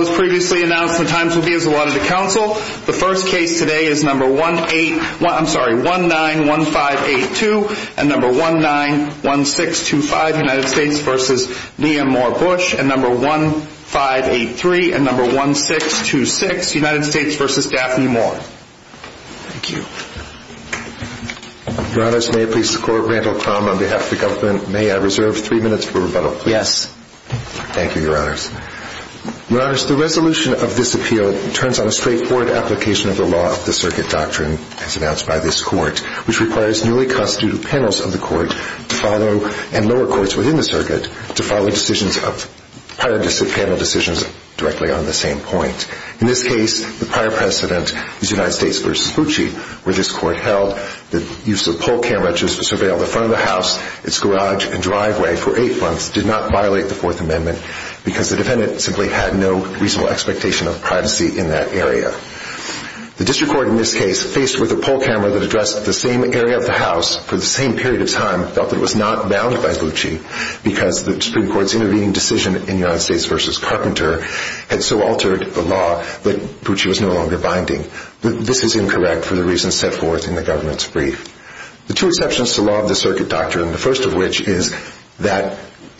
May I reserve three minutes for rebuttal, please? Yes. Thank you, Your Honors. Your Honors, the resolution of this appeal turns on a straightforward application of the law of the circuit doctrine as announced by this court, which requires newly constituted panels of the court to follow, and lower courts within the circuit, to follow decisions of prior panel decisions directly on the same point. In this case, the prior precedent is United States v. Bucci, where this court held that use of poll cameras just to surveil the front of the house, its garage, and driveway for eight months did not violate the Fourth Amendment, because the defendant simply had no reasonable expectation of privacy in that area. The district court in this case, faced with a poll camera that addressed the same area of the house for the same period of time, felt that it was not bound by Bucci, because the district court's intervening decision in United States v. Carpenter had so altered the law that Bucci was no longer binding. This is incorrect for the reasons set forth in the government's brief. The two exceptions to the law of the circuit doctrine, the first of which is that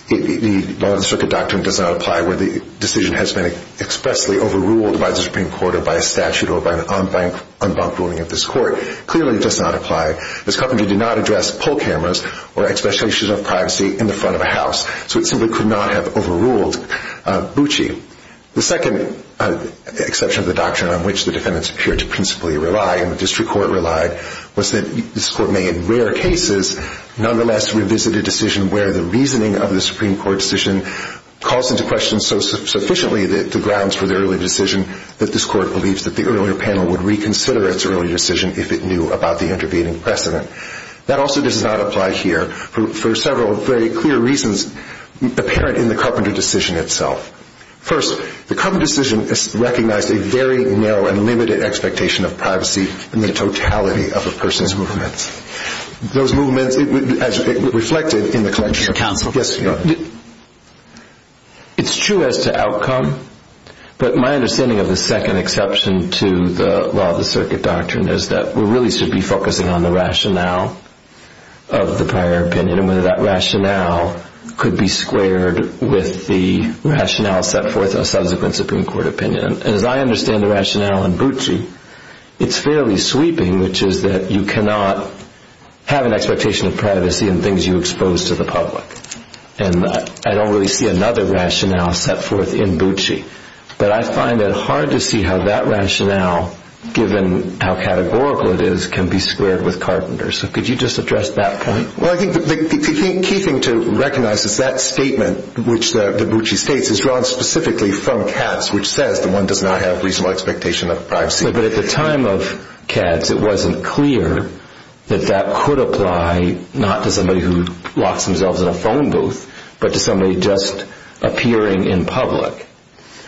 the law of the circuit doctrine does not apply where the decision has been expressly overruled by the Supreme Court or by a statute or by an en banc ruling of this court. Clearly, it does not apply. Ms. Carpenter did not address poll cameras or expectations of privacy in the front of a house, so it simply could not have overruled Bucci. The second exception of the doctrine on which the defendants appear to principally rely and the district court relied was that this court may, in rare cases, nonetheless revisit a decision where the reasoning of the Supreme Court decision calls into question so sufficiently the grounds for the early decision that this court believes that the earlier panel would reconsider its early decision if it knew about the intervening precedent. That also does not apply here for several very clear reasons apparent in the Carpenter decision itself. First, the Carpenter decision recognized a very narrow and limited expectation of privacy in the totality of a person's movements. Those movements, as reflected in the collection... Mr. Counsel. Yes, Your Honor. It's true as to outcome, but my understanding of the second exception to the law of the circuit doctrine is that we really should be focusing on the rationale of the prior opinion and whether that rationale could be squared with the rationale set forth in a subsequent Supreme Court opinion. And as I understand the rationale in Bucci, it's fairly sweeping, which is that you cannot have an expectation of privacy in things you expose to the public. And I don't really see another rationale set forth in Bucci. But I find it hard to see how that rationale, given how categorical it is, can be squared with Carpenter's. So could you just address that point? Well, I think the key thing to recognize is that statement, which the Bucci states, is drawn specifically from Katz, which says that one does not have reasonable expectation of privacy. But at the time of Katz, it wasn't clear that that could apply not to somebody who locks themselves in a phone booth, but to somebody just appearing in public.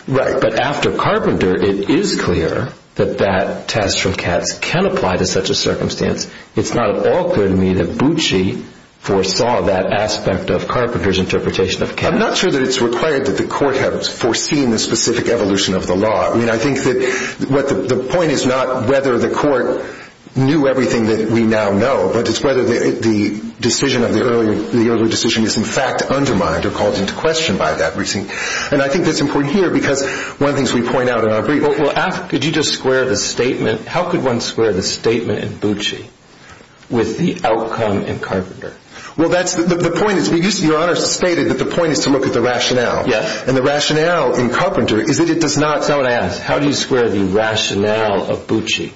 Right. But after Carpenter, it is clear that that test from Katz can apply to such a circumstance. It's not at all clear to me that Bucci foresaw that aspect of Carpenter's interpretation of Katz. I'm not sure that it's required that the court have foreseen the specific evolution of the law. I mean, I think that the point is not whether the court knew everything that we now know, but it's whether the decision of the earlier decision is, in fact, undermined or called into question by that reasoning. And I think that's important here, because one of the things we point out in our brief Well, could you just square the statement? How could one square the statement in Bucci with the outcome in Carpenter? Well, that's the point. Your Honor stated that the point is to look at the rationale. Yes. And the rationale in Carpenter is that it does not. Someone asked, how do you square the rationale of Bucci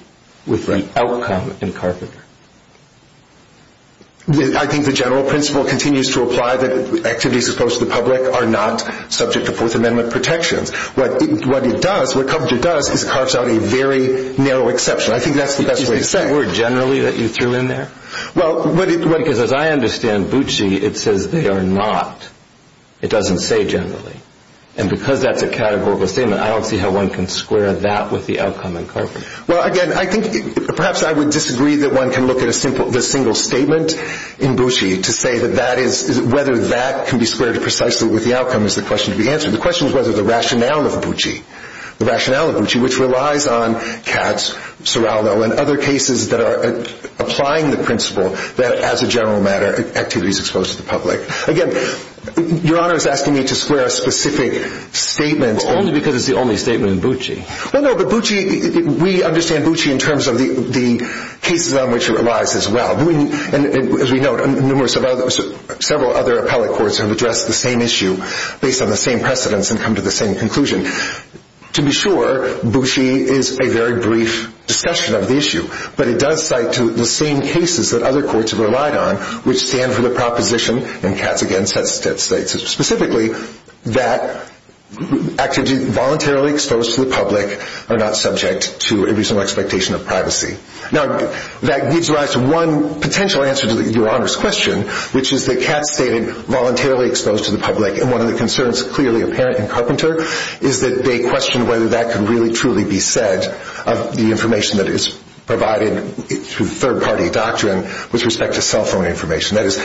with the outcome in Carpenter? I think the general principle continues to apply that activities as opposed to the public are not subject to Fourth Amendment protections. What it does, what Carpenter does, is it carves out a very narrow exception. I think that's the best way to say it. Is it the word generally that you threw in there? Well, what it Because as I understand Bucci, it says they are not. It doesn't say generally. And because that's a categorical statement, I don't see how one can square that with the outcome in Carpenter. Well, again, I think perhaps I would disagree that one can look at the single statement in Bucci to say whether that can be squared precisely with the outcome is the question to be answered. The question is whether the rationale of Bucci, the rationale of Bucci, which relies on Katz, Serrano, and other cases that are applying the principle that as a general matter, activities exposed to the public. Again, Your Honor is asking me to square a specific statement. Well, only because it's the only statement in Bucci. Well, no, but Bucci, we understand Bucci in terms of the cases on which it relies as well. And as we know, numerous, several other appellate courts have addressed the same issue based on the same precedents and come to the same conclusion. To be sure, Bucci is a very brief discussion of the issue. But it does cite the same cases that other courts have relied on, which stand for the proposition, and Katz again says specifically, that activities voluntarily exposed to the public are not subject to a reasonable expectation of privacy. Now, that gives rise to one potential answer to Your Honor's question, which is that Katz stated voluntarily exposed to the public. And one of the concerns, clearly apparent in Carpenter, is that they question whether that can really truly be said of the information that is provided through third-party doctrine with respect to cell phone information. That is,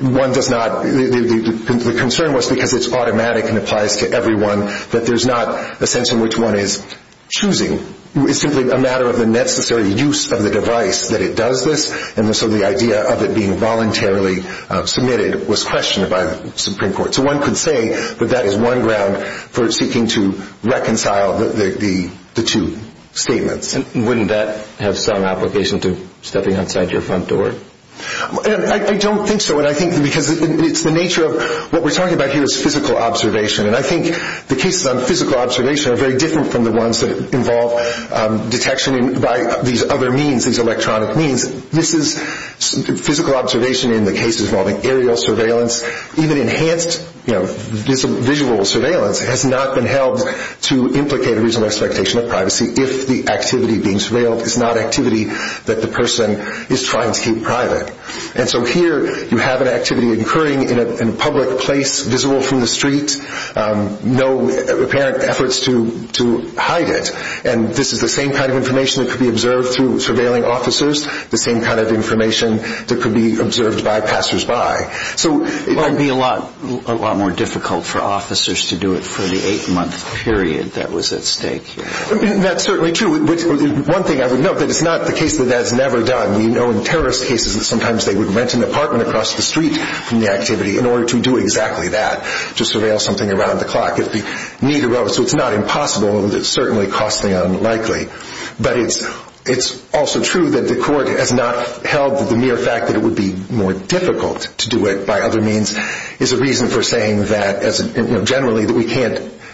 one does not, the concern was because it's automatic and applies to everyone, that there's not a sense in which one is choosing. It's simply a matter of the necessary use of the device that it does this, and so the idea of it being voluntarily submitted was questioned by the Supreme Court. So one could say that that is one ground for seeking to reconcile the two statements. Wouldn't that have some application to stepping outside your front door? I don't think so, because it's the nature of what we're talking about here is physical observation, and I think the cases on physical observation are very different from the ones that involve detection by these other means, these electronic means. This is physical observation in the cases involving aerial surveillance, even enhanced visual surveillance has not been held to implicate a reasonable expectation of privacy if the activity being surveilled is not activity that the person is trying to keep private. And so here you have an activity occurring in a public place visible from the street, no apparent efforts to hide it. And this is the same kind of information that could be observed through surveilling officers, the same kind of information that could be observed by passersby. So it might be a lot more difficult for officers to do it for the eight-month period that was at stake here. That's certainly true. One thing I would note, that it's not the case that that's never done. We know in terrorist cases that sometimes they would rent an apartment across the street from the activity in order to do exactly that, to surveil something around the clock. So it's not impossible, but it's certainly costly and unlikely. But it's also true that the court has not held the mere fact that it would be more difficult to do it by other means is a reason for saying that generally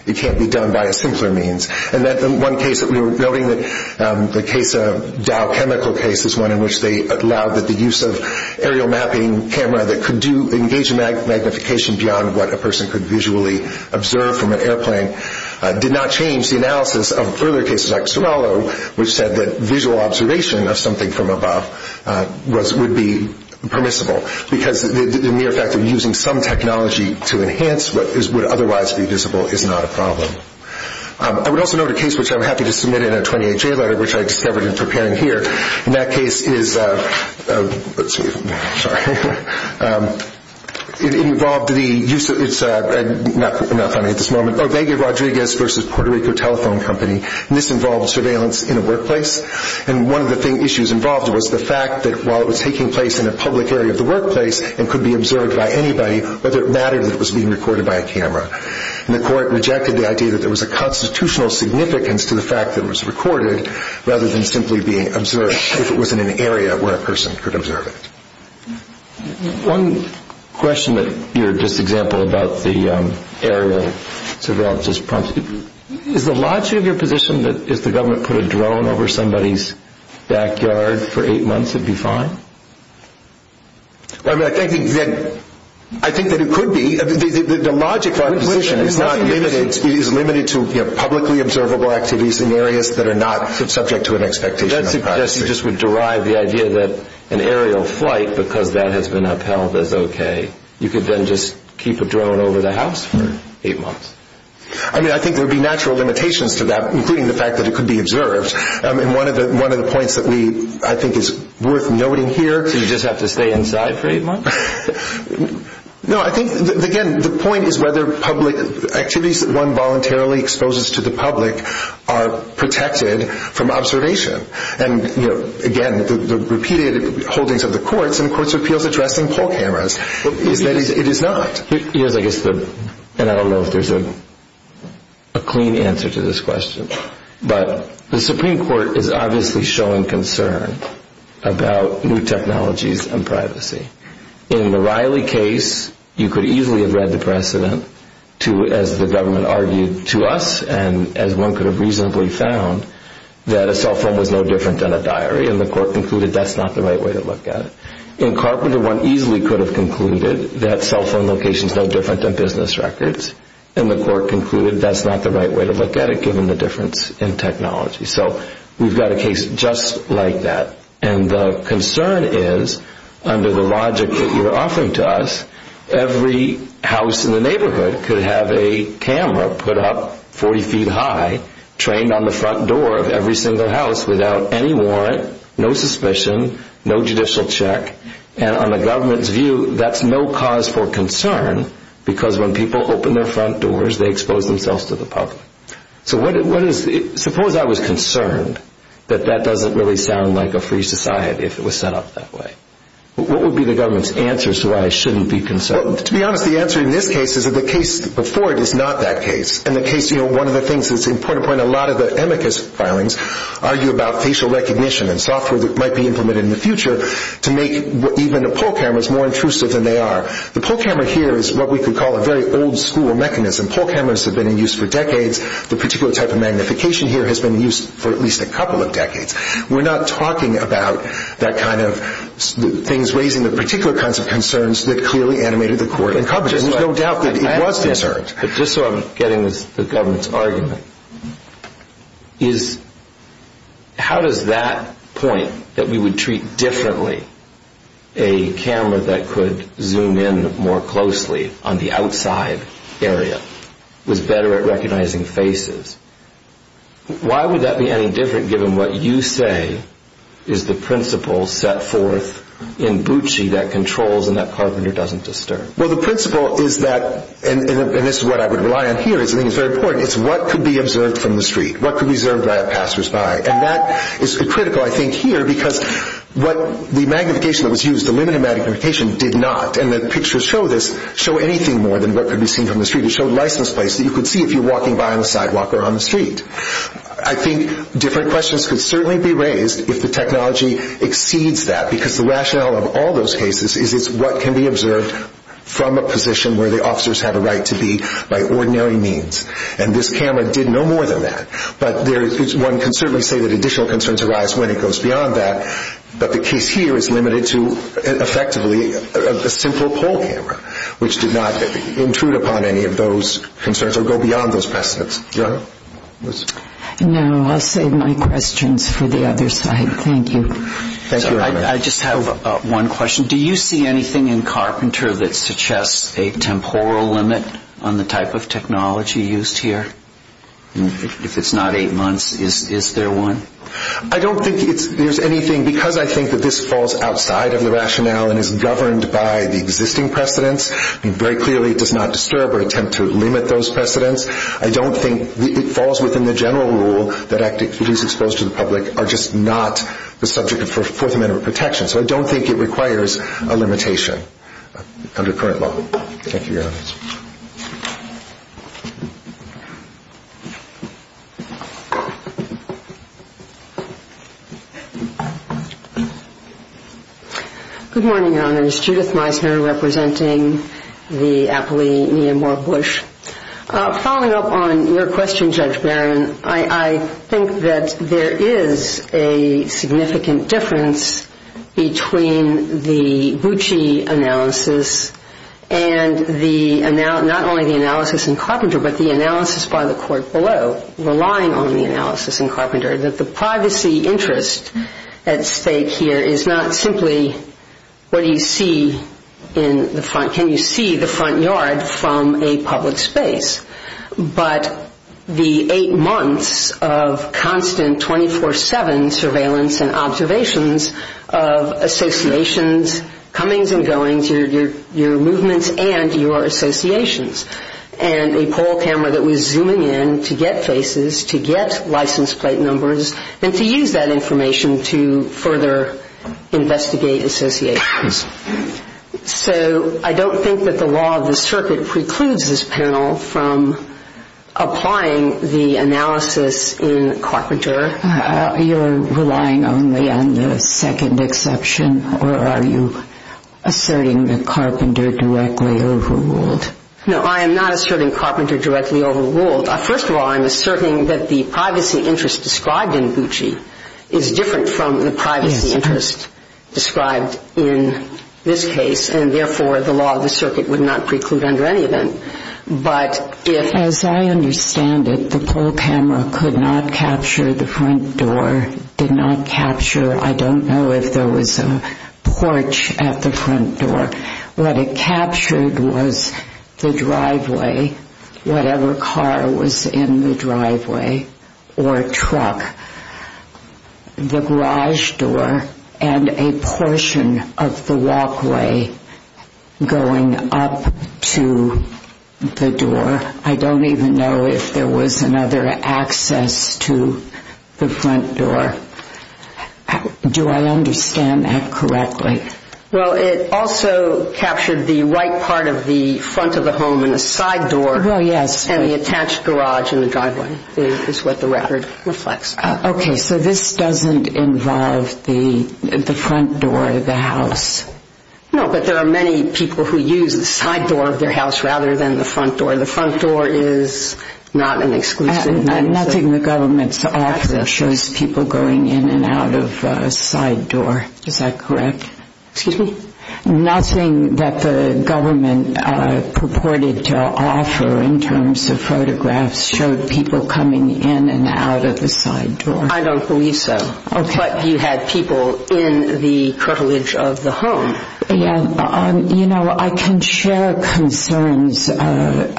it can't be done by a simpler means. And that one case that we were noting, the case of Dow Chemical case, was one in which they allowed the use of aerial mapping camera that could engage in magnification beyond what a person could visually observe from an airplane, did not change the analysis of further cases like Sorello, which said that visual observation of something from above would be permissible. Because the mere fact of using some technology to enhance what would otherwise be visible is not a problem. I would also note a case which I'm happy to submit in a 28-J letter, which I discovered in preparing here. And that case is, let's see, sorry, it involved the use of, it's not funny at this moment, Ovega Rodriguez versus Puerto Rico Telephone Company. And this involved surveillance in a workplace. And one of the issues involved was the fact that while it was taking place in a public area of the workplace and could be observed by anybody, whether it mattered that it was being recorded by a camera. And the court rejected the idea that there was a constitutional significance to the fact that it was recorded rather than simply being observed if it was in an area where a person could observe it. One question that you're just example about the aerial surveillance. Is the logic of your position that if the government put a drone over somebody's backyard for eight months, it'd be fine? I think that it could be. The logic of our position is limited to publicly observable activities in areas that are not subject to an expectation of privacy. So that would derive the idea that an aerial flight, because that has been upheld as okay, you could then just keep a drone over the house for eight months? I mean, I think there would be natural limitations to that, including the fact that it could be observed. And one of the points that I think is worth noting here. So you just have to stay inside for eight months? No, I think, again, the point is whether activities that one voluntarily exposes to the public are protected from observation. And again, the repeated holdings of the courts and courts of appeals addressing poll cameras is that it is not. Yes, I guess, and I don't know if there's a clean answer to this question. But the Supreme Court is obviously showing concern about new technologies and privacy. In the Riley case, you could easily have read the precedent to, as the government argued to us, and as one could have reasonably found, that a cell phone was no different than a diary, and the court concluded that's not the right way to look at it. In Carpenter, one easily could have concluded that cell phone locations are no different than business records, and the court concluded that's not the right way to look at it, given the difference in technology. So we've got a case just like that. And the concern is, under the logic that you're offering to us, every house in the neighborhood could have a camera put up 40 feet high, trained on the front door of every single house without any warrant, no suspicion, no judicial check. And on the government's view, that's no cause for concern, because when people open their front doors, they expose themselves to the public. So suppose I was concerned that that doesn't really sound like a free society if it was set up that way. What would be the government's answer so I shouldn't be concerned? Well, to be honest, the answer in this case is that the case before it is not that case. And one of the things that's important, a lot of the amicus filings argue about facial recognition and software that might be implemented in the future to make even the pole cameras more intrusive than they are. The pole camera here is what we could call a very old-school mechanism. Pole cameras have been in use for decades. The particular type of magnification here has been in use for at least a couple of decades. We're not talking about that kind of things raising the particular kinds of concerns that clearly animated the court in coverage. There's no doubt that it was concerned. But just so I'm getting the government's argument, is how does that point that we would treat differently a camera that could zoom in more closely on the outside area was better at recognizing faces? Why would that be any different given what you say is the principle set forth in Bucci that controls and that Carpenter doesn't disturb? Well, the principle is that, and this is what I would rely on here, I think it's very important, is what could be observed from the street? What could be observed by passersby? And that is critical, I think, here because what the magnification that was used, the limited magnification did not, and the pictures show this, show anything more than what could be seen from the street. It showed licensed places that you could see if you're walking by on the sidewalk or on the street. I think different questions could certainly be raised if the technology exceeds that because the rationale of all those cases is it's what can be observed from a position where the officers have a right to be by ordinary means. And this camera did no more than that. But one can certainly say that additional concerns arise when it goes beyond that. But the case here is limited to effectively a simple poll camera, which did not intrude upon any of those concerns or go beyond those precedents. Your Honor? No, I'll save my questions for the other side. Thank you. Thank you, Your Honor. I just have one question. Do you see anything in Carpenter that suggests a temporal limit on the type of technology used here? If it's not eight months, is there one? I don't think there's anything because I think that this falls outside of the rationale and is governed by the existing precedents. I mean, very clearly it does not disturb or attempt to limit those precedents. I don't think it falls within the general rule that activities exposed to the public are just not the subject of Fourth Amendment protection. So I don't think it requires a limitation under current law. Thank you, Your Honor. Good morning, Your Honor. It's Judith Meisner representing the aptly Neimor Bush. Following up on your question, Judge Barron, I think that there is a significant difference between the Bucci analysis and not only the analysis in Carpenter but the analysis by the court below, relying on the analysis in Carpenter, that the privacy interest at stake here is not simply what you see in the front. yard from a public space. But the eight months of constant 24-7 surveillance and observations of associations, comings and goings, your movements and your associations, and a poll camera that was zooming in to get faces, to get license plate numbers, and to use that information to further investigate associations. So I don't think that the law of the circuit precludes this panel from applying the analysis in Carpenter. You're relying only on the second exception, or are you asserting that Carpenter directly overruled? No, I am not asserting Carpenter directly overruled. First of all, I'm asserting that the privacy interest described in Bucci is different from the privacy interest described in this case, and therefore the law of the circuit would not preclude under any event. But if— As I understand it, the poll camera could not capture the front door, did not capture— I don't know if there was a porch at the front door. What it captured was the driveway, whatever car was in the driveway or truck. The garage door and a portion of the walkway going up to the door. I don't even know if there was another access to the front door. Do I understand that correctly? Well, it also captured the right part of the front of the home and the side door. Well, yes. And the attached garage in the driveway is what the record reflects. Okay, so this doesn't involve the front door of the house. No, but there are many people who use the side door of their house rather than the front door. The front door is not an exclusive— Nothing the government's offer shows people going in and out of a side door. Is that correct? Excuse me? Nothing that the government purported to offer in terms of photographs showed people coming in and out of the side door. I don't believe so. Okay. But you had people in the curtilage of the home. Yes. You know, I can share concerns about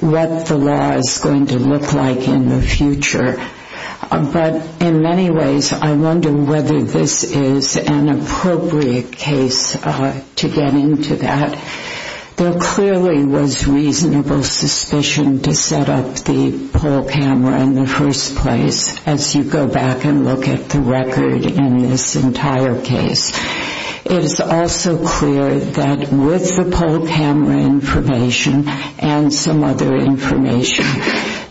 what the law is going to look like in the future. But in many ways, I wonder whether this is an appropriate case to get into that. There clearly was reasonable suspicion to set up the poll camera in the first place as you go back and look at the record in this entire case. It is also clear that with the poll camera information and some other information,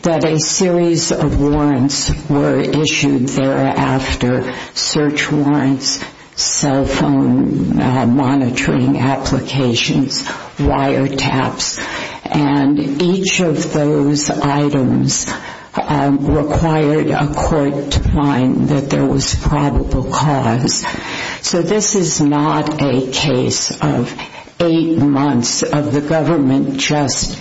that a series of warrants were issued thereafter, search warrants, cell phone monitoring applications, wiretaps, and each of those items required a court to find that there was probable cause. So this is not a case of eight months of the government just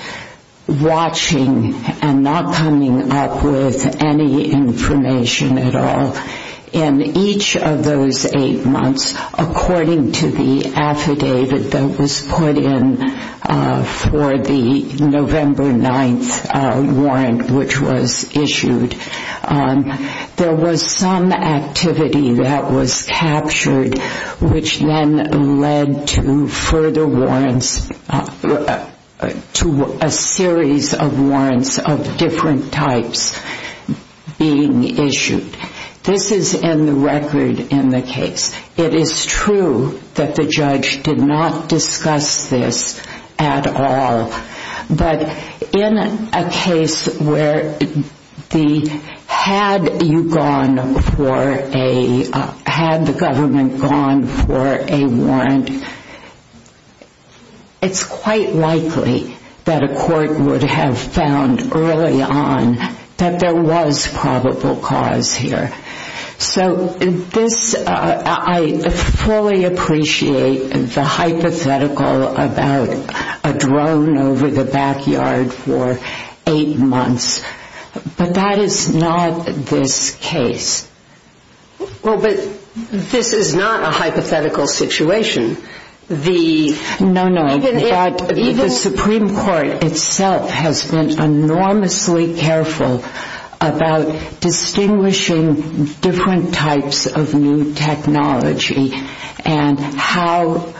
watching and not coming up with any information at all. In each of those eight months, according to the affidavit that was put in for the November 9th warrant which was issued, there was some activity that was captured which then led to further warrants, to a series of warrants of different types being issued. This is in the record in the case. It is true that the judge did not discuss this at all. But in a case where the, had you gone for a, had the government gone for a warrant, it is quite likely that a court would have found early on that there was probable cause here. So this, I fully appreciate the hypothetical about a drone over the backyard for eight months. But that is not this case. Well, but this is not a hypothetical situation. No, no. The Supreme Court itself has been enormously careful about distinguishing different types of new technology and how,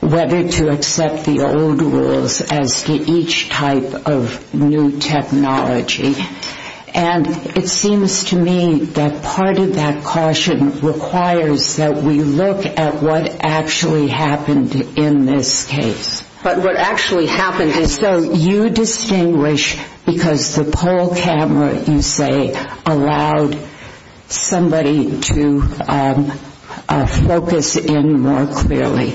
whether to accept the old rules as to each type of new technology. And it seems to me that part of that caution requires that we look at what actually happened in this case. But what actually happened is... So you distinguish because the poll camera, you say, allowed somebody to focus in more clearly.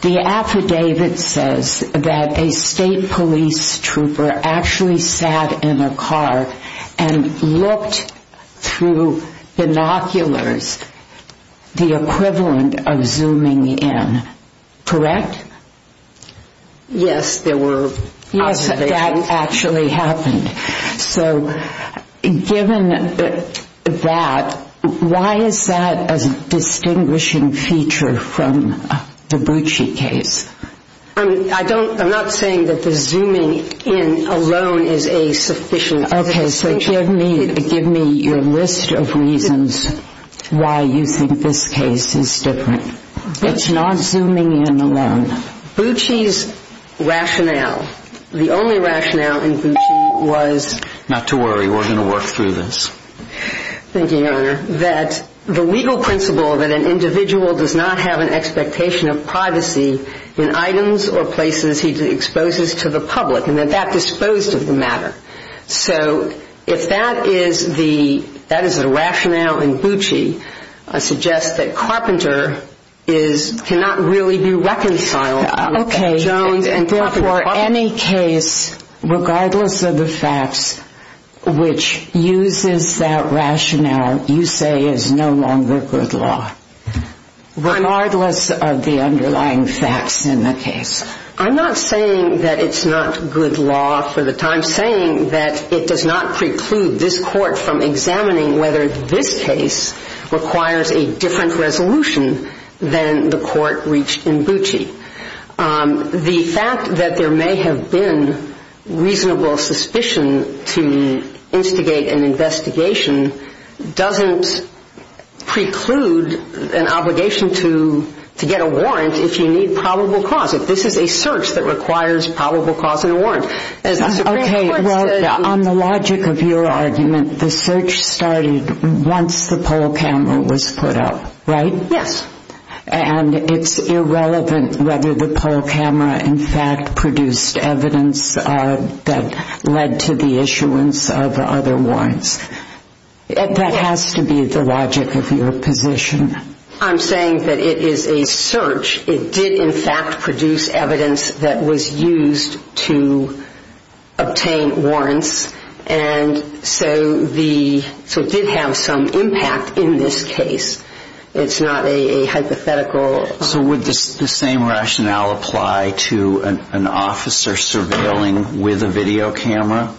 The affidavit says that a state police trooper actually sat in a car and looked through binoculars the equivalent of zooming in. Correct? Yes, there were observations. Yes, that actually happened. So given that, why is that a distinguishing feature from the Bucci case? I don't, I'm not saying that the zooming in alone is a sufficient... Okay, so give me your list of reasons why you think this case is different. It's not zooming in alone. Bucci's rationale, the only rationale in Bucci was... Not to worry, we're going to work through this. Thank you, Your Honor. That the legal principle that an individual does not have an expectation of privacy in items or places he exposes to the public, and that that disposed of the matter. So if that is the rationale in Bucci, I suggest that Carpenter cannot really be reconciled... Okay, and therefore any case, regardless of the facts, which uses that rationale, you say is no longer good law. Regardless of the underlying facts in the case. I'm not saying that it's not good law for the time saying that it does not preclude this court from examining whether this case requires a different resolution than the court reached in Bucci. The fact that there may have been reasonable suspicion to instigate an investigation doesn't preclude an obligation to get a warrant if you need probable cause. If this is a search that requires probable cause and a warrant. Okay, well, on the logic of your argument, the search started once the poll camera was put up, right? Yes. And it's irrelevant whether the poll camera in fact produced evidence that led to the issuance of other warrants. That has to be the logic of your position. I'm saying that it is a search. It did in fact produce evidence that was used to obtain warrants. And so it did have some impact in this case. It's not a hypothetical... So would the same rationale apply to an officer surveilling with a video camera?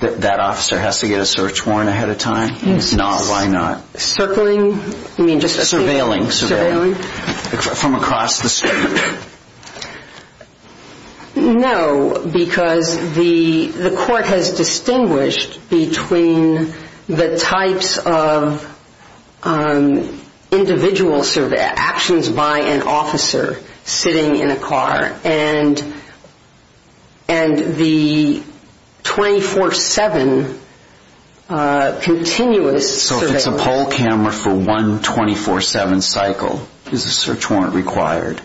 That officer has to get a search warrant ahead of time? Yes. Why not? Circling? Surveilling. From across the street? No, because the court has distinguished between the types of individual actions by an officer sitting in a car and the 24-7 continuous surveilling. So if it's a poll camera for one 24-7 cycle, is a search warrant required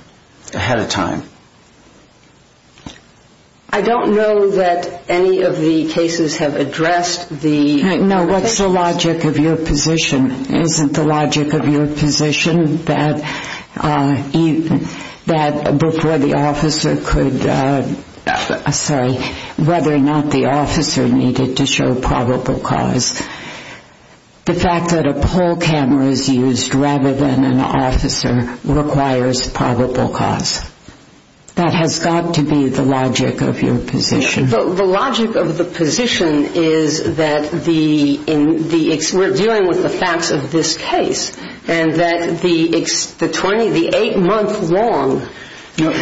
ahead of time? I don't know that any of the cases have addressed the... No, what's the logic of your position? Isn't the logic of your position that before the officer could say whether or not the officer needed to show probable cause? The fact that a poll camera is used rather than an officer requires probable cause. That has got to be the logic of your position. The logic of the position is that we're dealing with the facts of this case. And that the eight-month long surveillance... to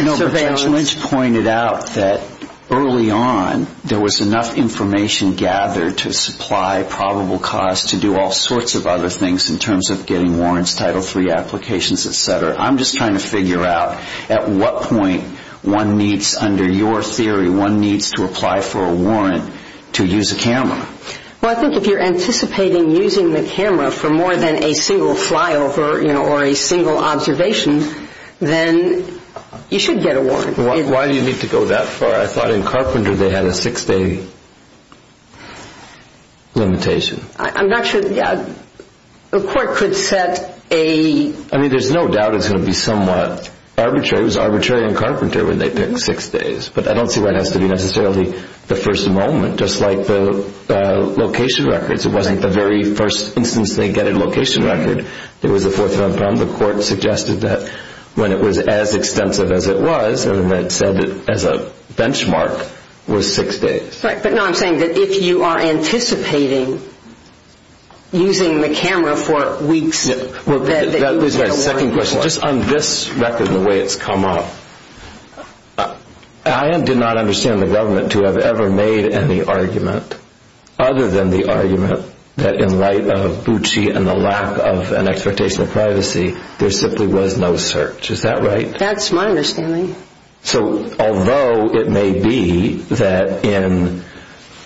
do all sorts of other things in terms of getting warrants, Title III applications, etc. I'm just trying to figure out at what point one needs, under your theory, one needs to apply for a warrant to use a camera. Well, I think if you're anticipating using the camera for more than a single flyover or a single observation, then you should get a warrant. Why do you need to go that far? I thought in Carpenter they had a six-day limitation. I'm not sure. The court could set a... I mean, there's no doubt it's going to be somewhat arbitrary. It was arbitrary in Carpenter when they picked six days. But I don't see why it has to be necessarily the first moment, just like the location records. It wasn't the very first instance they get a location record. There was a fourth one from the court suggested that when it was as extensive as it was, and it said that as a benchmark, was six days. Right, but no, I'm saying that if you are anticipating using the camera for weeks... Yeah, well, there's a second question. Just on this record and the way it's come up, I did not understand the government to have ever made any argument, other than the argument that in light of Bucci and the lack of an expectation of privacy, there simply was no search. Is that right? That's my understanding. So although it may be that in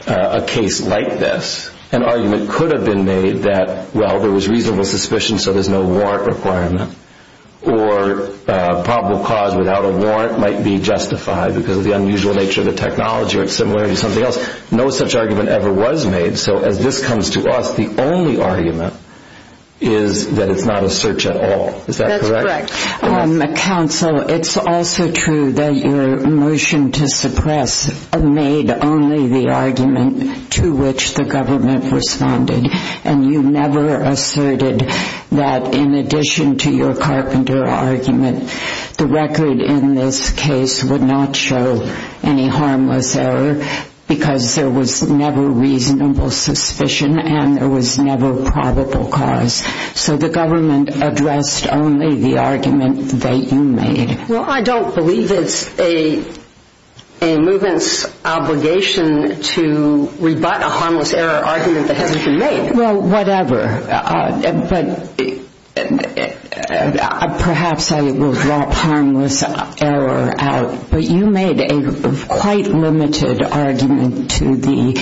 a case like this, an argument could have been made that, well, there was reasonable suspicion, so there's no warrant requirement, or probable cause without a warrant might be justified because of the unusual nature of the technology or it's similar to something else. No such argument ever was made. So as this comes to us, the only argument is that it's not a search at all. Is that correct? That's correct. Counsel, it's also true that your motion to suppress made only the argument to which the government responded, and you never asserted that in addition to your Carpenter argument, the record in this case would not show any harmless error because there was never reasonable suspicion and there was never probable cause. So the government addressed only the argument that you made. Well, I don't believe it's a movement's obligation to rebut a harmless error argument that hasn't been made. Well, whatever. But perhaps I will drop harmless error out. But you made a quite limited argument to the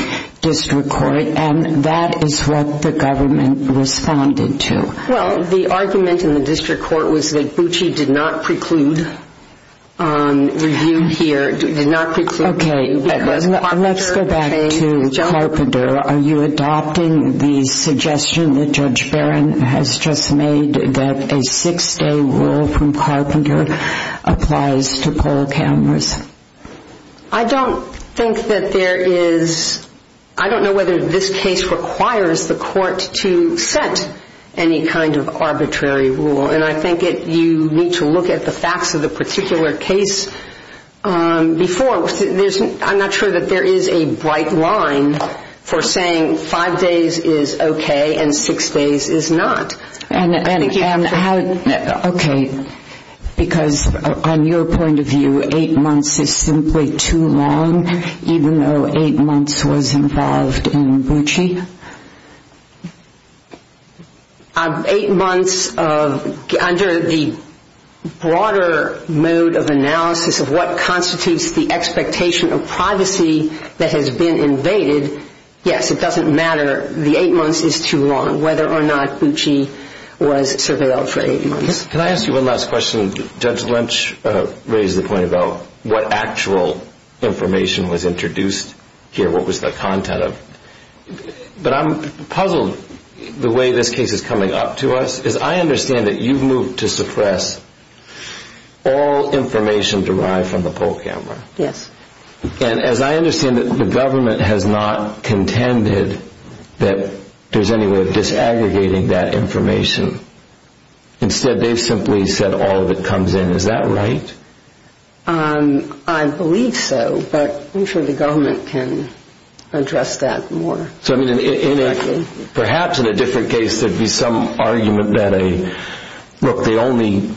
district court, and that is what the government responded to. Well, the argument in the district court was that Bucci did not preclude review here. Okay. Let's go back to Carpenter. Are you adopting the suggestion that Judge Barron has just made that a six-day rule from Carpenter applies to poll cameras? I don't think that there is ‑‑ I don't know whether this case requires the court to set any kind of arbitrary rule, and I think you need to look at the facts of the particular case before. I'm not sure that there is a bright line for saying five days is okay and six days is not. Okay. Because on your point of view, eight months is simply too long, even though eight months was involved in Bucci? Eight months, under the broader mode of analysis of what constitutes the expectation of privacy that has been invaded, yes, it doesn't matter. The eight months is too long, whether or not Bucci was surveilled for eight months. Can I ask you one last question? Judge Lynch raised the point about what actual information was introduced here, what was the content of. But I'm puzzled the way this case is coming up to us, because I understand that you've moved to suppress all information derived from the poll camera. Yes. And as I understand it, the government has not contended that there's any way of disaggregating that information. Instead, they've simply said all of it comes in. Is that right? I believe so, but I'm sure the government can address that more directly. Perhaps in a different case there would be some argument that, look, they only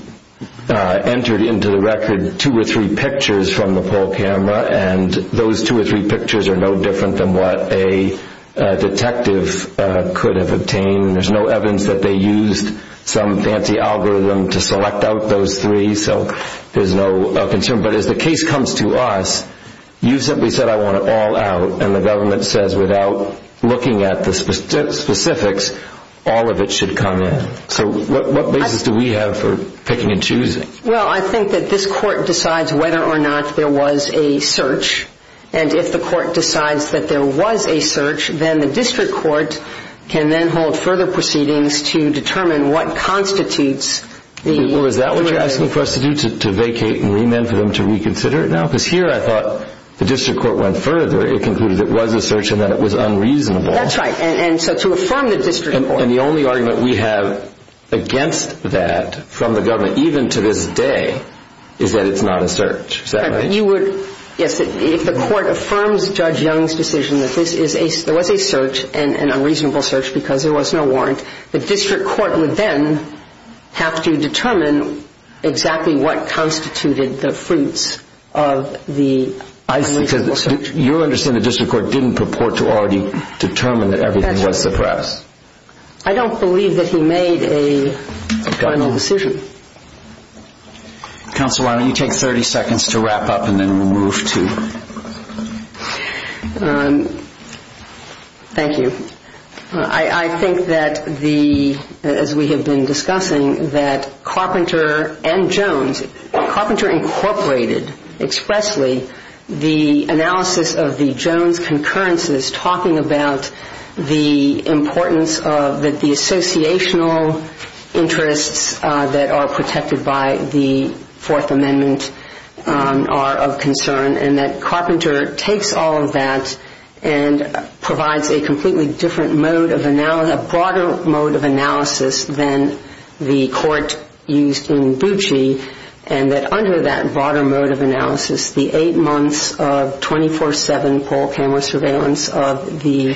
entered into the record two or three pictures from the poll camera, and those two or three pictures are no different than what a detective could have obtained. There's no evidence that they used some fancy algorithm to select out those three, so there's no concern. But as the case comes to us, you've simply said I want it all out, and the government says without looking at the specifics, all of it should come in. So what basis do we have for picking and choosing? Well, I think that this court decides whether or not there was a search, and if the court decides that there was a search, then the district court can then hold further proceedings to determine what constitutes the search. Or is that what you're asking for us to do, to vacate and remand for them to reconsider it now? Because here I thought the district court went further. It concluded it was a search and that it was unreasonable. That's right. And so to affirm the district court. And the only argument we have against that from the government, even to this day, is that it's not a search. Is that right? Yes. If the court affirms Judge Young's decision that there was a search, an unreasonable search because there was no warrant, the district court would then have to determine exactly what constituted the fruits of the search. You understand the district court didn't purport to already determine that everything was suppressed. I don't believe that he made a final decision. Counsel, why don't you take 30 seconds to wrap up and then we'll move to... Thank you. I think that the, as we have been discussing, that Carpenter and Jones, Carpenter incorporated expressly the analysis of the Jones concurrences talking about the importance of the associational interests that are protected by the Fourth Amendment are of concern and that Carpenter takes all of that and provides a completely different mode of analysis, a broader mode of analysis than the court used in Bucci and that under that broader mode of analysis, the eight months of 24-7 poll camera surveillance of the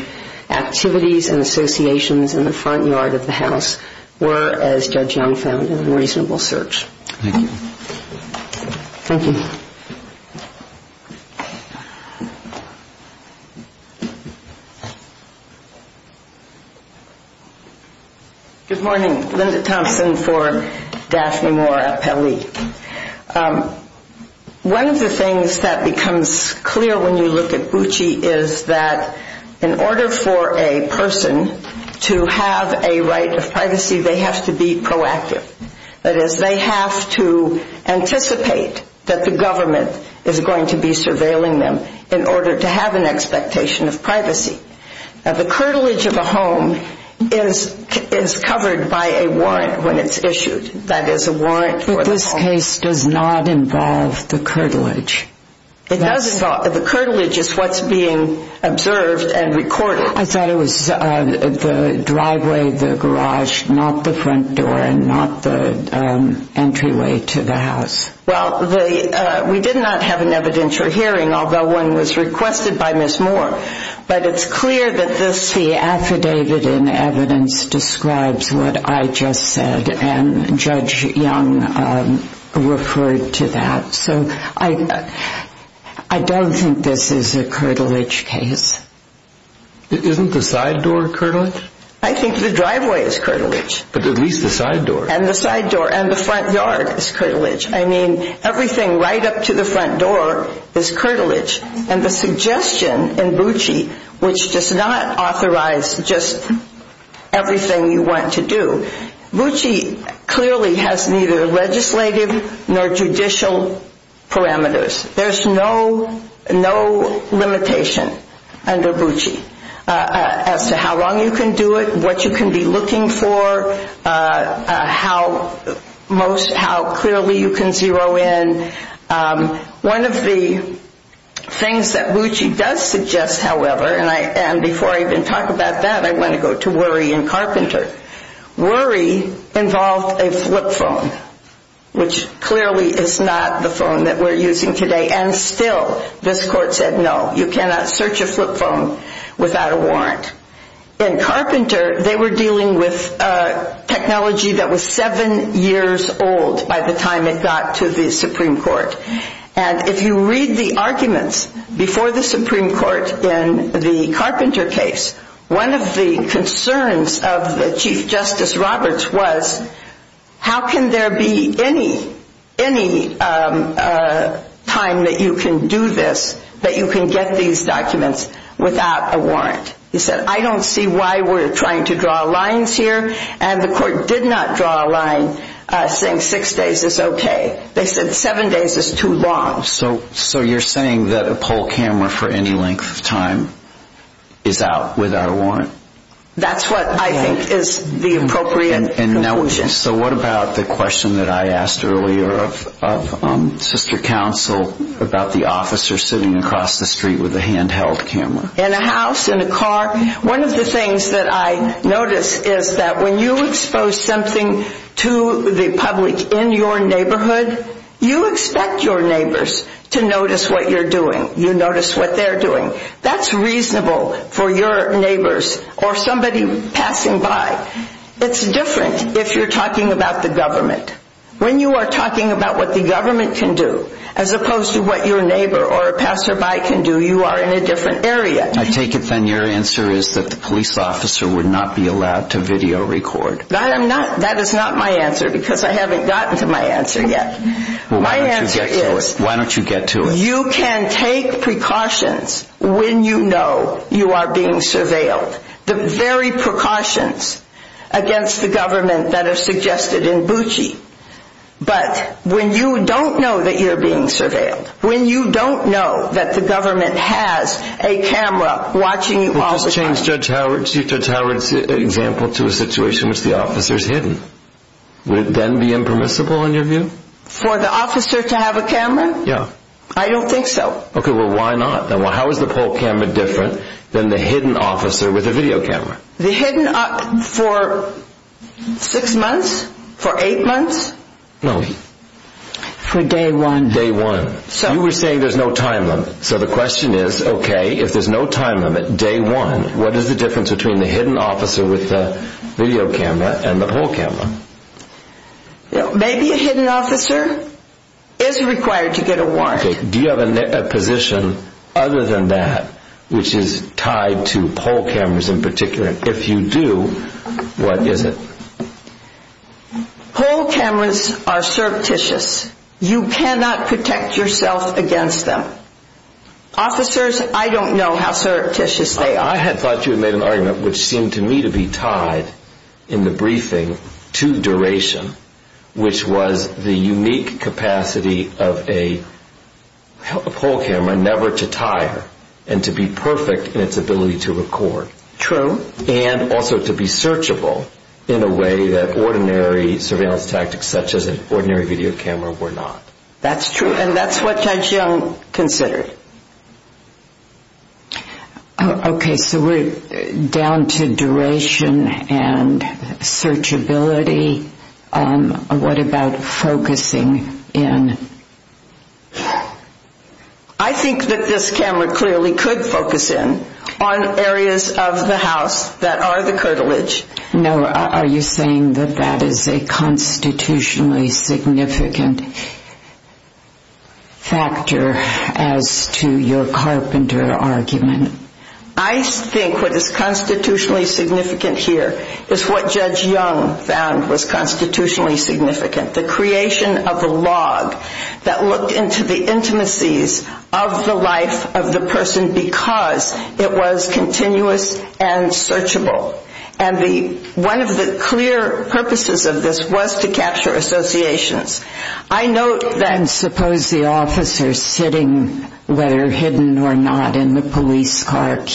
activities and associations in the front yard of the house were, as Judge Young found, an unreasonable search. Thank you. Thank you. Good morning. Linda Thompson for Daphne Moore at Pelley. One of the things that becomes clear when you look at Bucci is that in order for a person to have a right of privacy, they have to be proactive. That is, they have to anticipate that the government is going to be surveilling them in order to have an expectation of privacy. The curtilage of a home is covered by a warrant when it's issued. That is, a warrant for the home. But this case does not involve the curtilage. It does involve. The curtilage is what's being observed and recorded. I thought it was the driveway, the garage, not the front door and not the entryway to the house. Well, we did not have an evidentiary hearing, although one was requested by Ms. Moore, but it's clear that this affidavit in evidence describes what I just said, and Judge Young referred to that. So I don't think this is a curtilage case. Isn't the side door curtilage? I think the driveway is curtilage. But at least the side door. And the side door. And the front yard is curtilage. I mean, everything right up to the front door is curtilage. And the suggestion in Bucci, which does not authorize just everything you want to do, Bucci clearly has neither legislative nor judicial parameters. There's no limitation under Bucci as to how long you can do it, what you can be looking for, how clearly you can zero in. One of the things that Bucci does suggest, however, and before I even talk about that, I want to go to Worry and Carpenter. Worry involved a flip phone, which clearly is not the phone that we're using today, and still this court said no, you cannot search a flip phone without a warrant. In Carpenter, they were dealing with technology that was seven years old by the time it got to the Supreme Court. And if you read the arguments before the Supreme Court in the Carpenter case, one of the concerns of the Chief Justice Roberts was, how can there be any time that you can do this, that you can get these documents without a warrant? He said, I don't see why we're trying to draw lines here. And the court did not draw a line saying six days is okay. They said seven days is too long. So you're saying that a poll camera for any length of time is out without a warrant? That's what I think is the appropriate conclusion. So what about the question that I asked earlier of Sister Counsel about the officer sitting across the street with a handheld camera? In a house, in a car. One of the things that I notice is that when you expose something to the public in your neighborhood, you expect your neighbors to notice what you're doing. You notice what they're doing. That's reasonable for your neighbors or somebody passing by. It's different if you're talking about the government. When you are talking about what the government can do, as opposed to what your neighbor or a passerby can do, you are in a different area. I take it then your answer is that the police officer would not be allowed to video record. That is not my answer because I haven't gotten to my answer yet. My answer is... Why don't you get to it? You can take precautions when you know you are being surveilled. The very precautions against the government that are suggested in Bucci. But when you don't know that you're being surveilled, when you don't know that the government has a camera watching you all the time... Would this change Judge Howard's example to a situation in which the officer is hidden? Would it then be impermissible in your view? For the officer to have a camera? Yeah. I don't think so. Okay, well, why not? How is the poll camera different than the hidden officer with a video camera? The hidden officer for six months? For eight months? No. For day one. Day one. You were saying there's no time limit. So the question is, okay, if there's no time limit, day one, what is the difference between the hidden officer with the video camera and the poll camera? Maybe a hidden officer is required to get a warrant. Do you have a position other than that which is tied to poll cameras in particular? If you do, what is it? Poll cameras are surreptitious. You cannot protect yourself against them. Officers, I don't know how surreptitious they are. I had thought you had made an argument which seemed to me to be tied in the briefing to duration, which was the unique capacity of a poll camera never to tire and to be perfect in its ability to record. True. And also to be searchable in a way that ordinary surveillance tactics such as an ordinary video camera were not. That's true. And that's what Chan Chiang considered. Okay. So we're down to duration and searchability. What about focusing in? I think that this camera clearly could focus in on areas of the house that are the curtilage. No, are you saying that that is a constitutionally significant factor as to your carpenter argument? I think what is constitutionally significant here is what Judge Young found was constitutionally significant, the creation of a log that looked into the intimacies of the life of the person because it was continuous and searchable. And one of the clear purposes of this was to capture associations. And suppose the officer sitting, whether hidden or not, in the police car,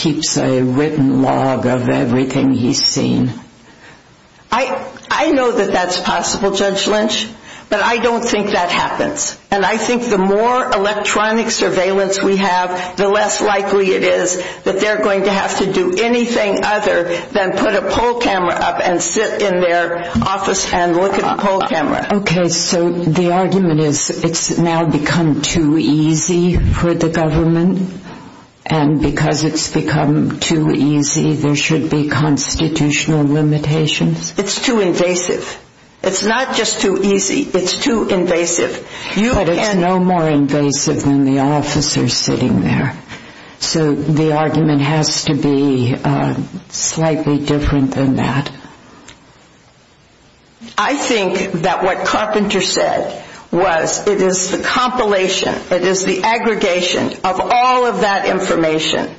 I know that that's possible, Judge Lynch, but I don't think that happens. And I think the more electronic surveillance we have, the less likely it is that they're going to have to do anything other than put a poll camera up and sit in their office and look at the poll camera. Okay. So the argument is it's now become too easy for the government. And because it's become too easy, there should be constitutional limitations? It's too invasive. It's not just too easy, it's too invasive. But it's no more invasive than the officer sitting there. So the argument has to be slightly different than that. I think that what Carpenter said was it is the compilation, it is the aggregation of all of that information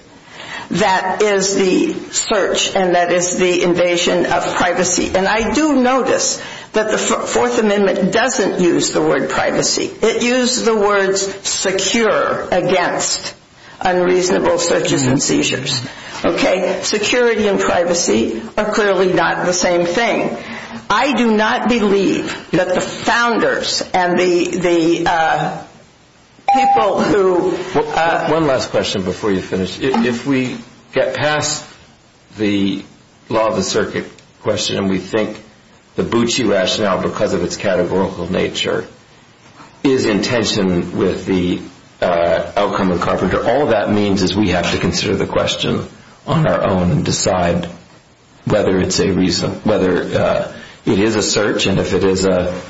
that is the search and that is the invasion of privacy. And I do notice that the Fourth Amendment doesn't use the word privacy. It uses the words secure against unreasonable searches and seizures. Okay. Security and privacy are clearly not the same thing. I do not believe that the founders and the people who ---- One last question before you finish. If we get past the law of the circuit question and we think the Bucci rationale because of its categorical nature is in tension with the outcome of Carpenter, all that means is we have to consider the question on our own and decide whether it is a search and if it is a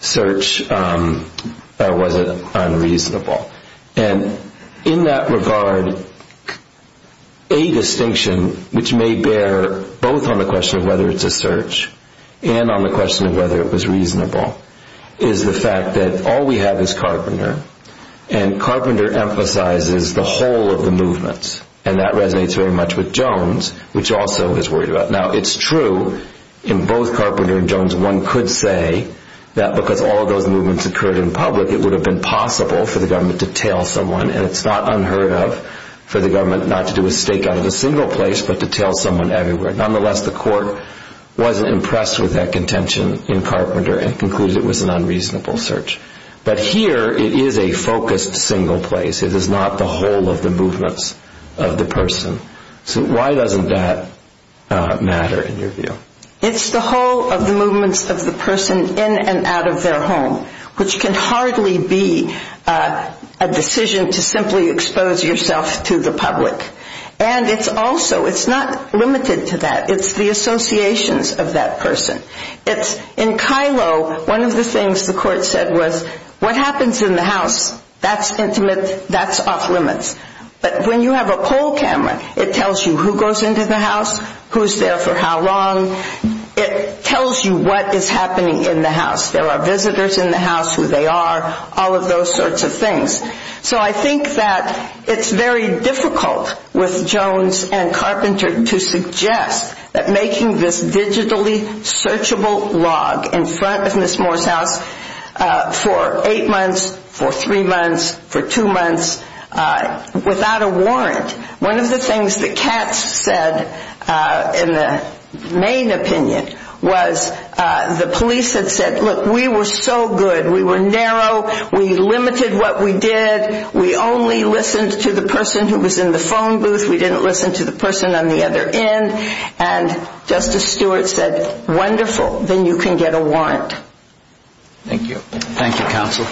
search or was it unreasonable. And in that regard, a distinction which may bear both on the question of whether it's a search and on the question of whether it was reasonable is the fact that all we have is Carpenter and Carpenter emphasizes the whole of the movements and that resonates very much with Jones which also is worried about. Now it's true in both Carpenter and Jones one could say that because all of those movements occurred in public it would have been possible for the government to tail someone and it's not unheard of for the government not to do a stakeout in a single place but to tail someone everywhere. Nonetheless, the court wasn't impressed with that contention in Carpenter and concluded it was an unreasonable search. But here it is a focused single place. It is not the whole of the movements of the person. So why doesn't that matter in your view? It's the whole of the movements of the person in and out of their home which can hardly be a decision to simply expose yourself to the public. And it's also, it's not limited to that. It's the associations of that person. It's in Kylo, one of the things the court said was what happens in the house, that's intimate, that's off limits. But when you have a poll camera, it tells you who goes into the house, who's there for how long. It tells you what is happening in the house. There are visitors in the house, who they are, all of those sorts of things. So I think that it's very difficult with Jones and Carpenter to suggest that making this digitally searchable log in front of Ms. Moore's house for eight months, for three months, for two months without a warrant. One of the things that Katz said in the main opinion was the police had said, look, we were so good. We were narrow. We limited what we did. We only listened to the person who was in the phone booth. We didn't listen to the person on the other end. And Justice Stewart said, wonderful, then you can get a warrant. Thank you. Thank you, Counsel.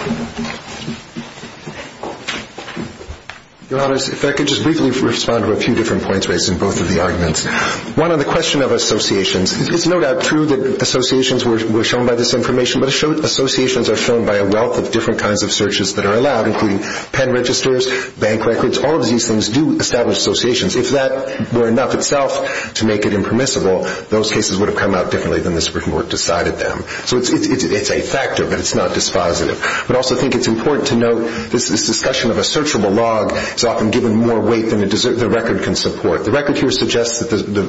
Your Honors, if I could just briefly respond to a few different points raised in both of the arguments. One on the question of associations. It's no doubt true that associations were shown by this information, but associations are shown by a wealth of different kinds of searches that are allowed, including pen registers, bank records. All of these things do establish associations. If that were enough itself to make it impermissible, those cases would have come out differently than the Supreme Court decided them. So it's a factor, but it's not dispositive. But I also think it's important to note this discussion of a searchable log is often given more weight than the record can support. The record here suggests that the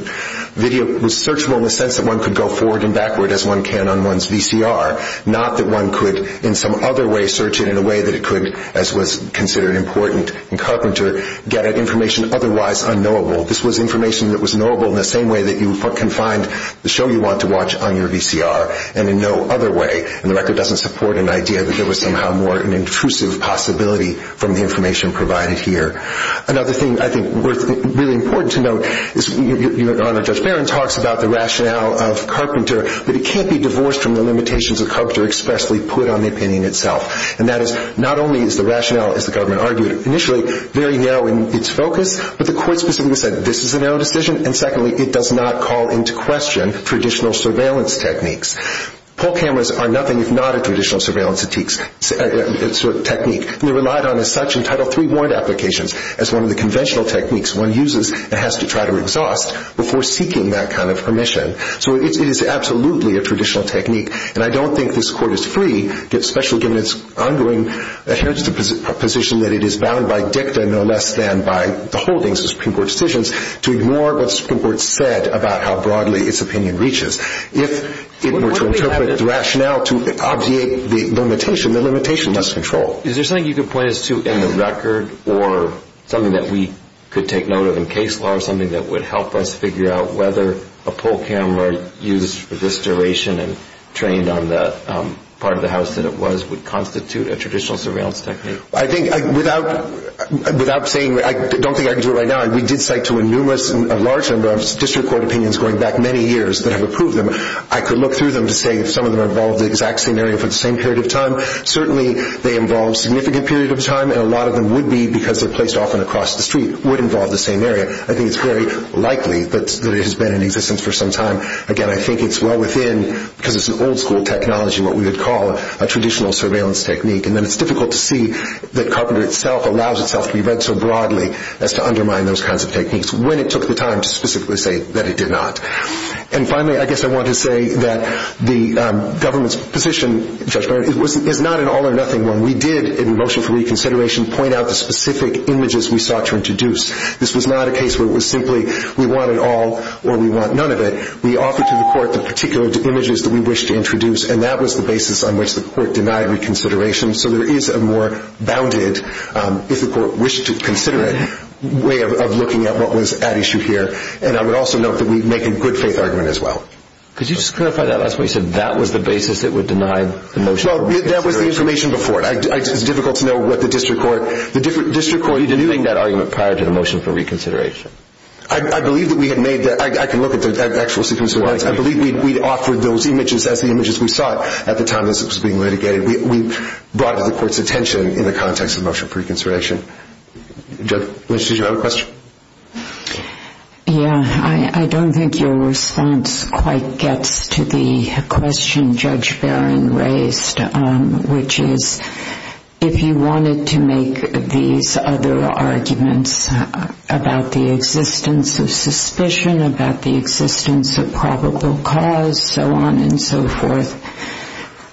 video was searchable in the sense that one could go forward and backward as one can on one's VCR, not that one could in some other way search it in a way that it could, as was considered important in Carpenter, get at information otherwise unknowable. This was information that was knowable in the same way that you can find the show you want to watch on your VCR and in no other way. And the record doesn't support an idea that there was somehow more an intrusive possibility from the information provided here. Another thing I think is really important to note is Your Honor, Judge Barron talks about the rationale of Carpenter, but it can't be divorced from the limitations of Carpenter expressly put on the opinion itself. And that is not only is the rationale, as the government argued initially, very narrow in its focus, but the court specifically said this is a narrow decision, and secondly, it does not call into question traditional surveillance techniques. Poll cameras are nothing if not a traditional surveillance technique. They're relied on as such in Title III warrant applications as one of the conventional techniques one uses and has to try to exhaust before seeking that kind of permission. So it is absolutely a traditional technique, and I don't think this Court is free, especially given its ongoing position that it is bound by dicta no less than by the holdings of Supreme Court decisions to ignore what the Supreme Court said about how broadly its opinion reaches. If it were to interpret the rationale to obviate the limitation, the limitation must control. Is there something you could point us to in the record or something that we could take note of in case law or something that would help us figure out whether a poll camera used for this duration and trained on the part of the house that it was would constitute a traditional surveillance technique? I think without saying, I don't think I can do it right now. We did cite to a large number of district court opinions going back many years that have approved them. I could look through them to say if some of them involve the exact same area for the same period of time. Certainly they involve a significant period of time, and a lot of them would be because they're placed often across the street, would involve the same area. I think it's very likely that it has been in existence for some time. Again, I think it's well within, because it's an old-school technology, what we would call a traditional surveillance technique. Then it's difficult to see that carpenter itself allows itself to be read so broadly as to undermine those kinds of techniques when it took the time to specifically say that it did not. Finally, I guess I want to say that the government's position, Judge Barron, is not an all or nothing one. We did, in motion for reconsideration, point out the specific images we sought to introduce. This was not a case where it was simply we want it all or we want none of it. We offered to the court the particular images that we wished to introduce, and that was the basis on which the court denied reconsideration. So there is a more bounded, if the court wished to consider it, way of looking at what was at issue here. I would also note that we make a good faith argument as well. Could you just clarify that last point? You said that was the basis that would deny the motion for reconsideration. That was the information before. It's difficult to know what the district court. Are you denying that argument prior to the motion for reconsideration? I believe that we had made that. I can look at the actual sequence of events. I believe we offered those images as the images we sought at the time this was being litigated. We brought it to the court's attention in the context of motion for reconsideration. Judge Lynch, did you have a question? Yeah. I don't think your response quite gets to the question Judge Barron raised, which is if you wanted to make these other arguments about the existence of suspicion, about the existence of probable cause, so on and so forth,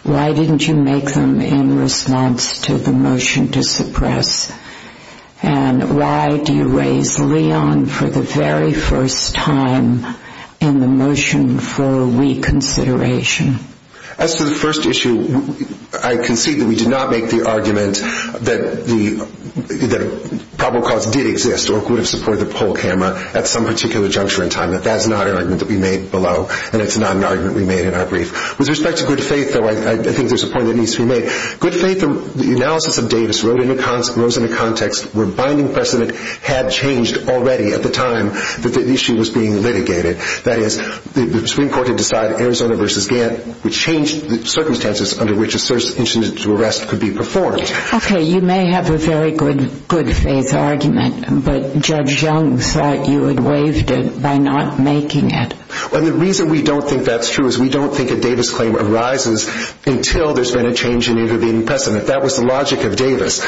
why didn't you make them in response to the motion to suppress? And why do you raise Leon for the very first time in the motion for reconsideration? As to the first issue, I concede that we did not make the argument that probable cause did exist or could have supported the poll camera at some particular juncture in time. That's not an argument that we made below, and it's not an argument we made in our brief. With respect to good faith, though, I think there's a point that needs to be made. Good faith analysis of Davis rose in a context where binding precedent had changed already at the time that the issue was being litigated. That is, the Supreme Court had decided Arizona v. Gantt would change the circumstances under which an incident to arrest could be performed. Okay, you may have a very good faith argument, but Judge Young thought you had waived it by not making it. The reason we don't think that's true is we don't think a Davis claim arises until there's been a change in intervening precedent. That was the logic of Davis.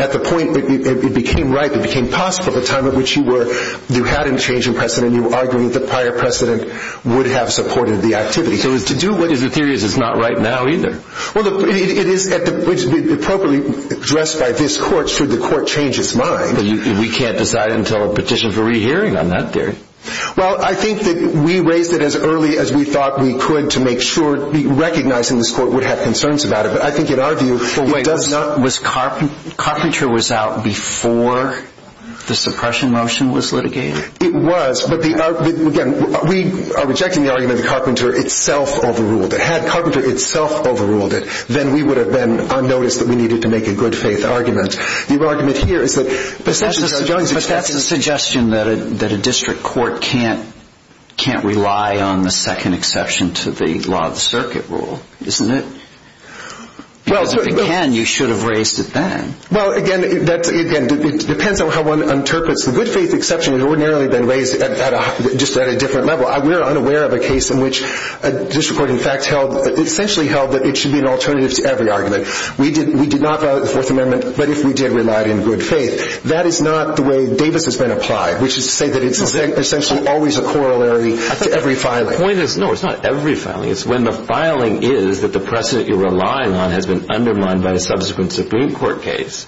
At the point it became right, it became possible at the time at which you were, you had a change in precedent and you were arguing that the prior precedent would have supported the activity. So to do what is a theory is not right now either. Well, it is appropriately addressed by this Court should the Court change its mind. We can't decide until a petition for rehearing on that theory. Well, I think that we raised it as early as we thought we could to make sure recognizing this Court would have concerns about it. But I think in our view it does not... Wait, was Carpenter was out before the suppression motion was litigated? It was, but again, we are rejecting the argument that Carpenter itself overruled. If it had Carpenter itself overruled it, then we would have been unnoticed that we needed to make a good faith argument. The argument here is that... But that's a suggestion that a district court can't rely on the second exception to the law of the circuit rule, isn't it? Because if it can, you should have raised it then. Well, again, it depends on how one interprets the good faith exception had ordinarily been raised just at a different level. We're unaware of a case in which a district court, in fact, essentially held that it should be an alternative to every argument. We did not violate the Fourth Amendment, but if we did, we relied in good faith. That is not the way Davis has been applied, which is to say that it's essentially always a corollary to every filing. No, it's not every filing. It's when the filing is that the precedent you're relying on has been undermined by the subsequent Supreme Court case.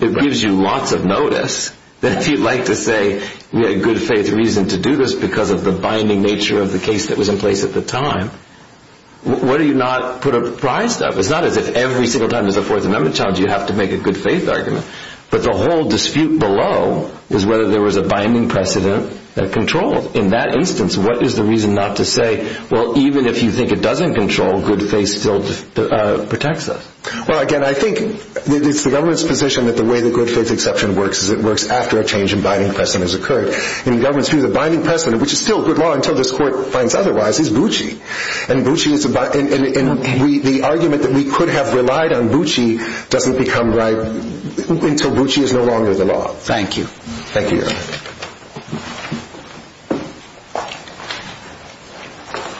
It gives you lots of notice that if you'd like to say we had a good faith reason to do this because of the binding nature of the case that was in place at the time, why do you not put a prize to that? It's not as if every single time there's a Fourth Amendment challenge you have to make a good faith argument. But the whole dispute below is whether there was a binding precedent that controlled. In that instance, what is the reason not to say, well, even if you think it doesn't control, good faith still protects us? Well, again, I think it's the government's position that the way the good faith exception works is it works after a change in binding precedent has occurred. In the government's view, the binding precedent, which is still good law until this Court finds otherwise, is Bucci. And the argument that we could have relied on Bucci doesn't become right until Bucci is no longer the law. Thank you. Thank you, Your Honor.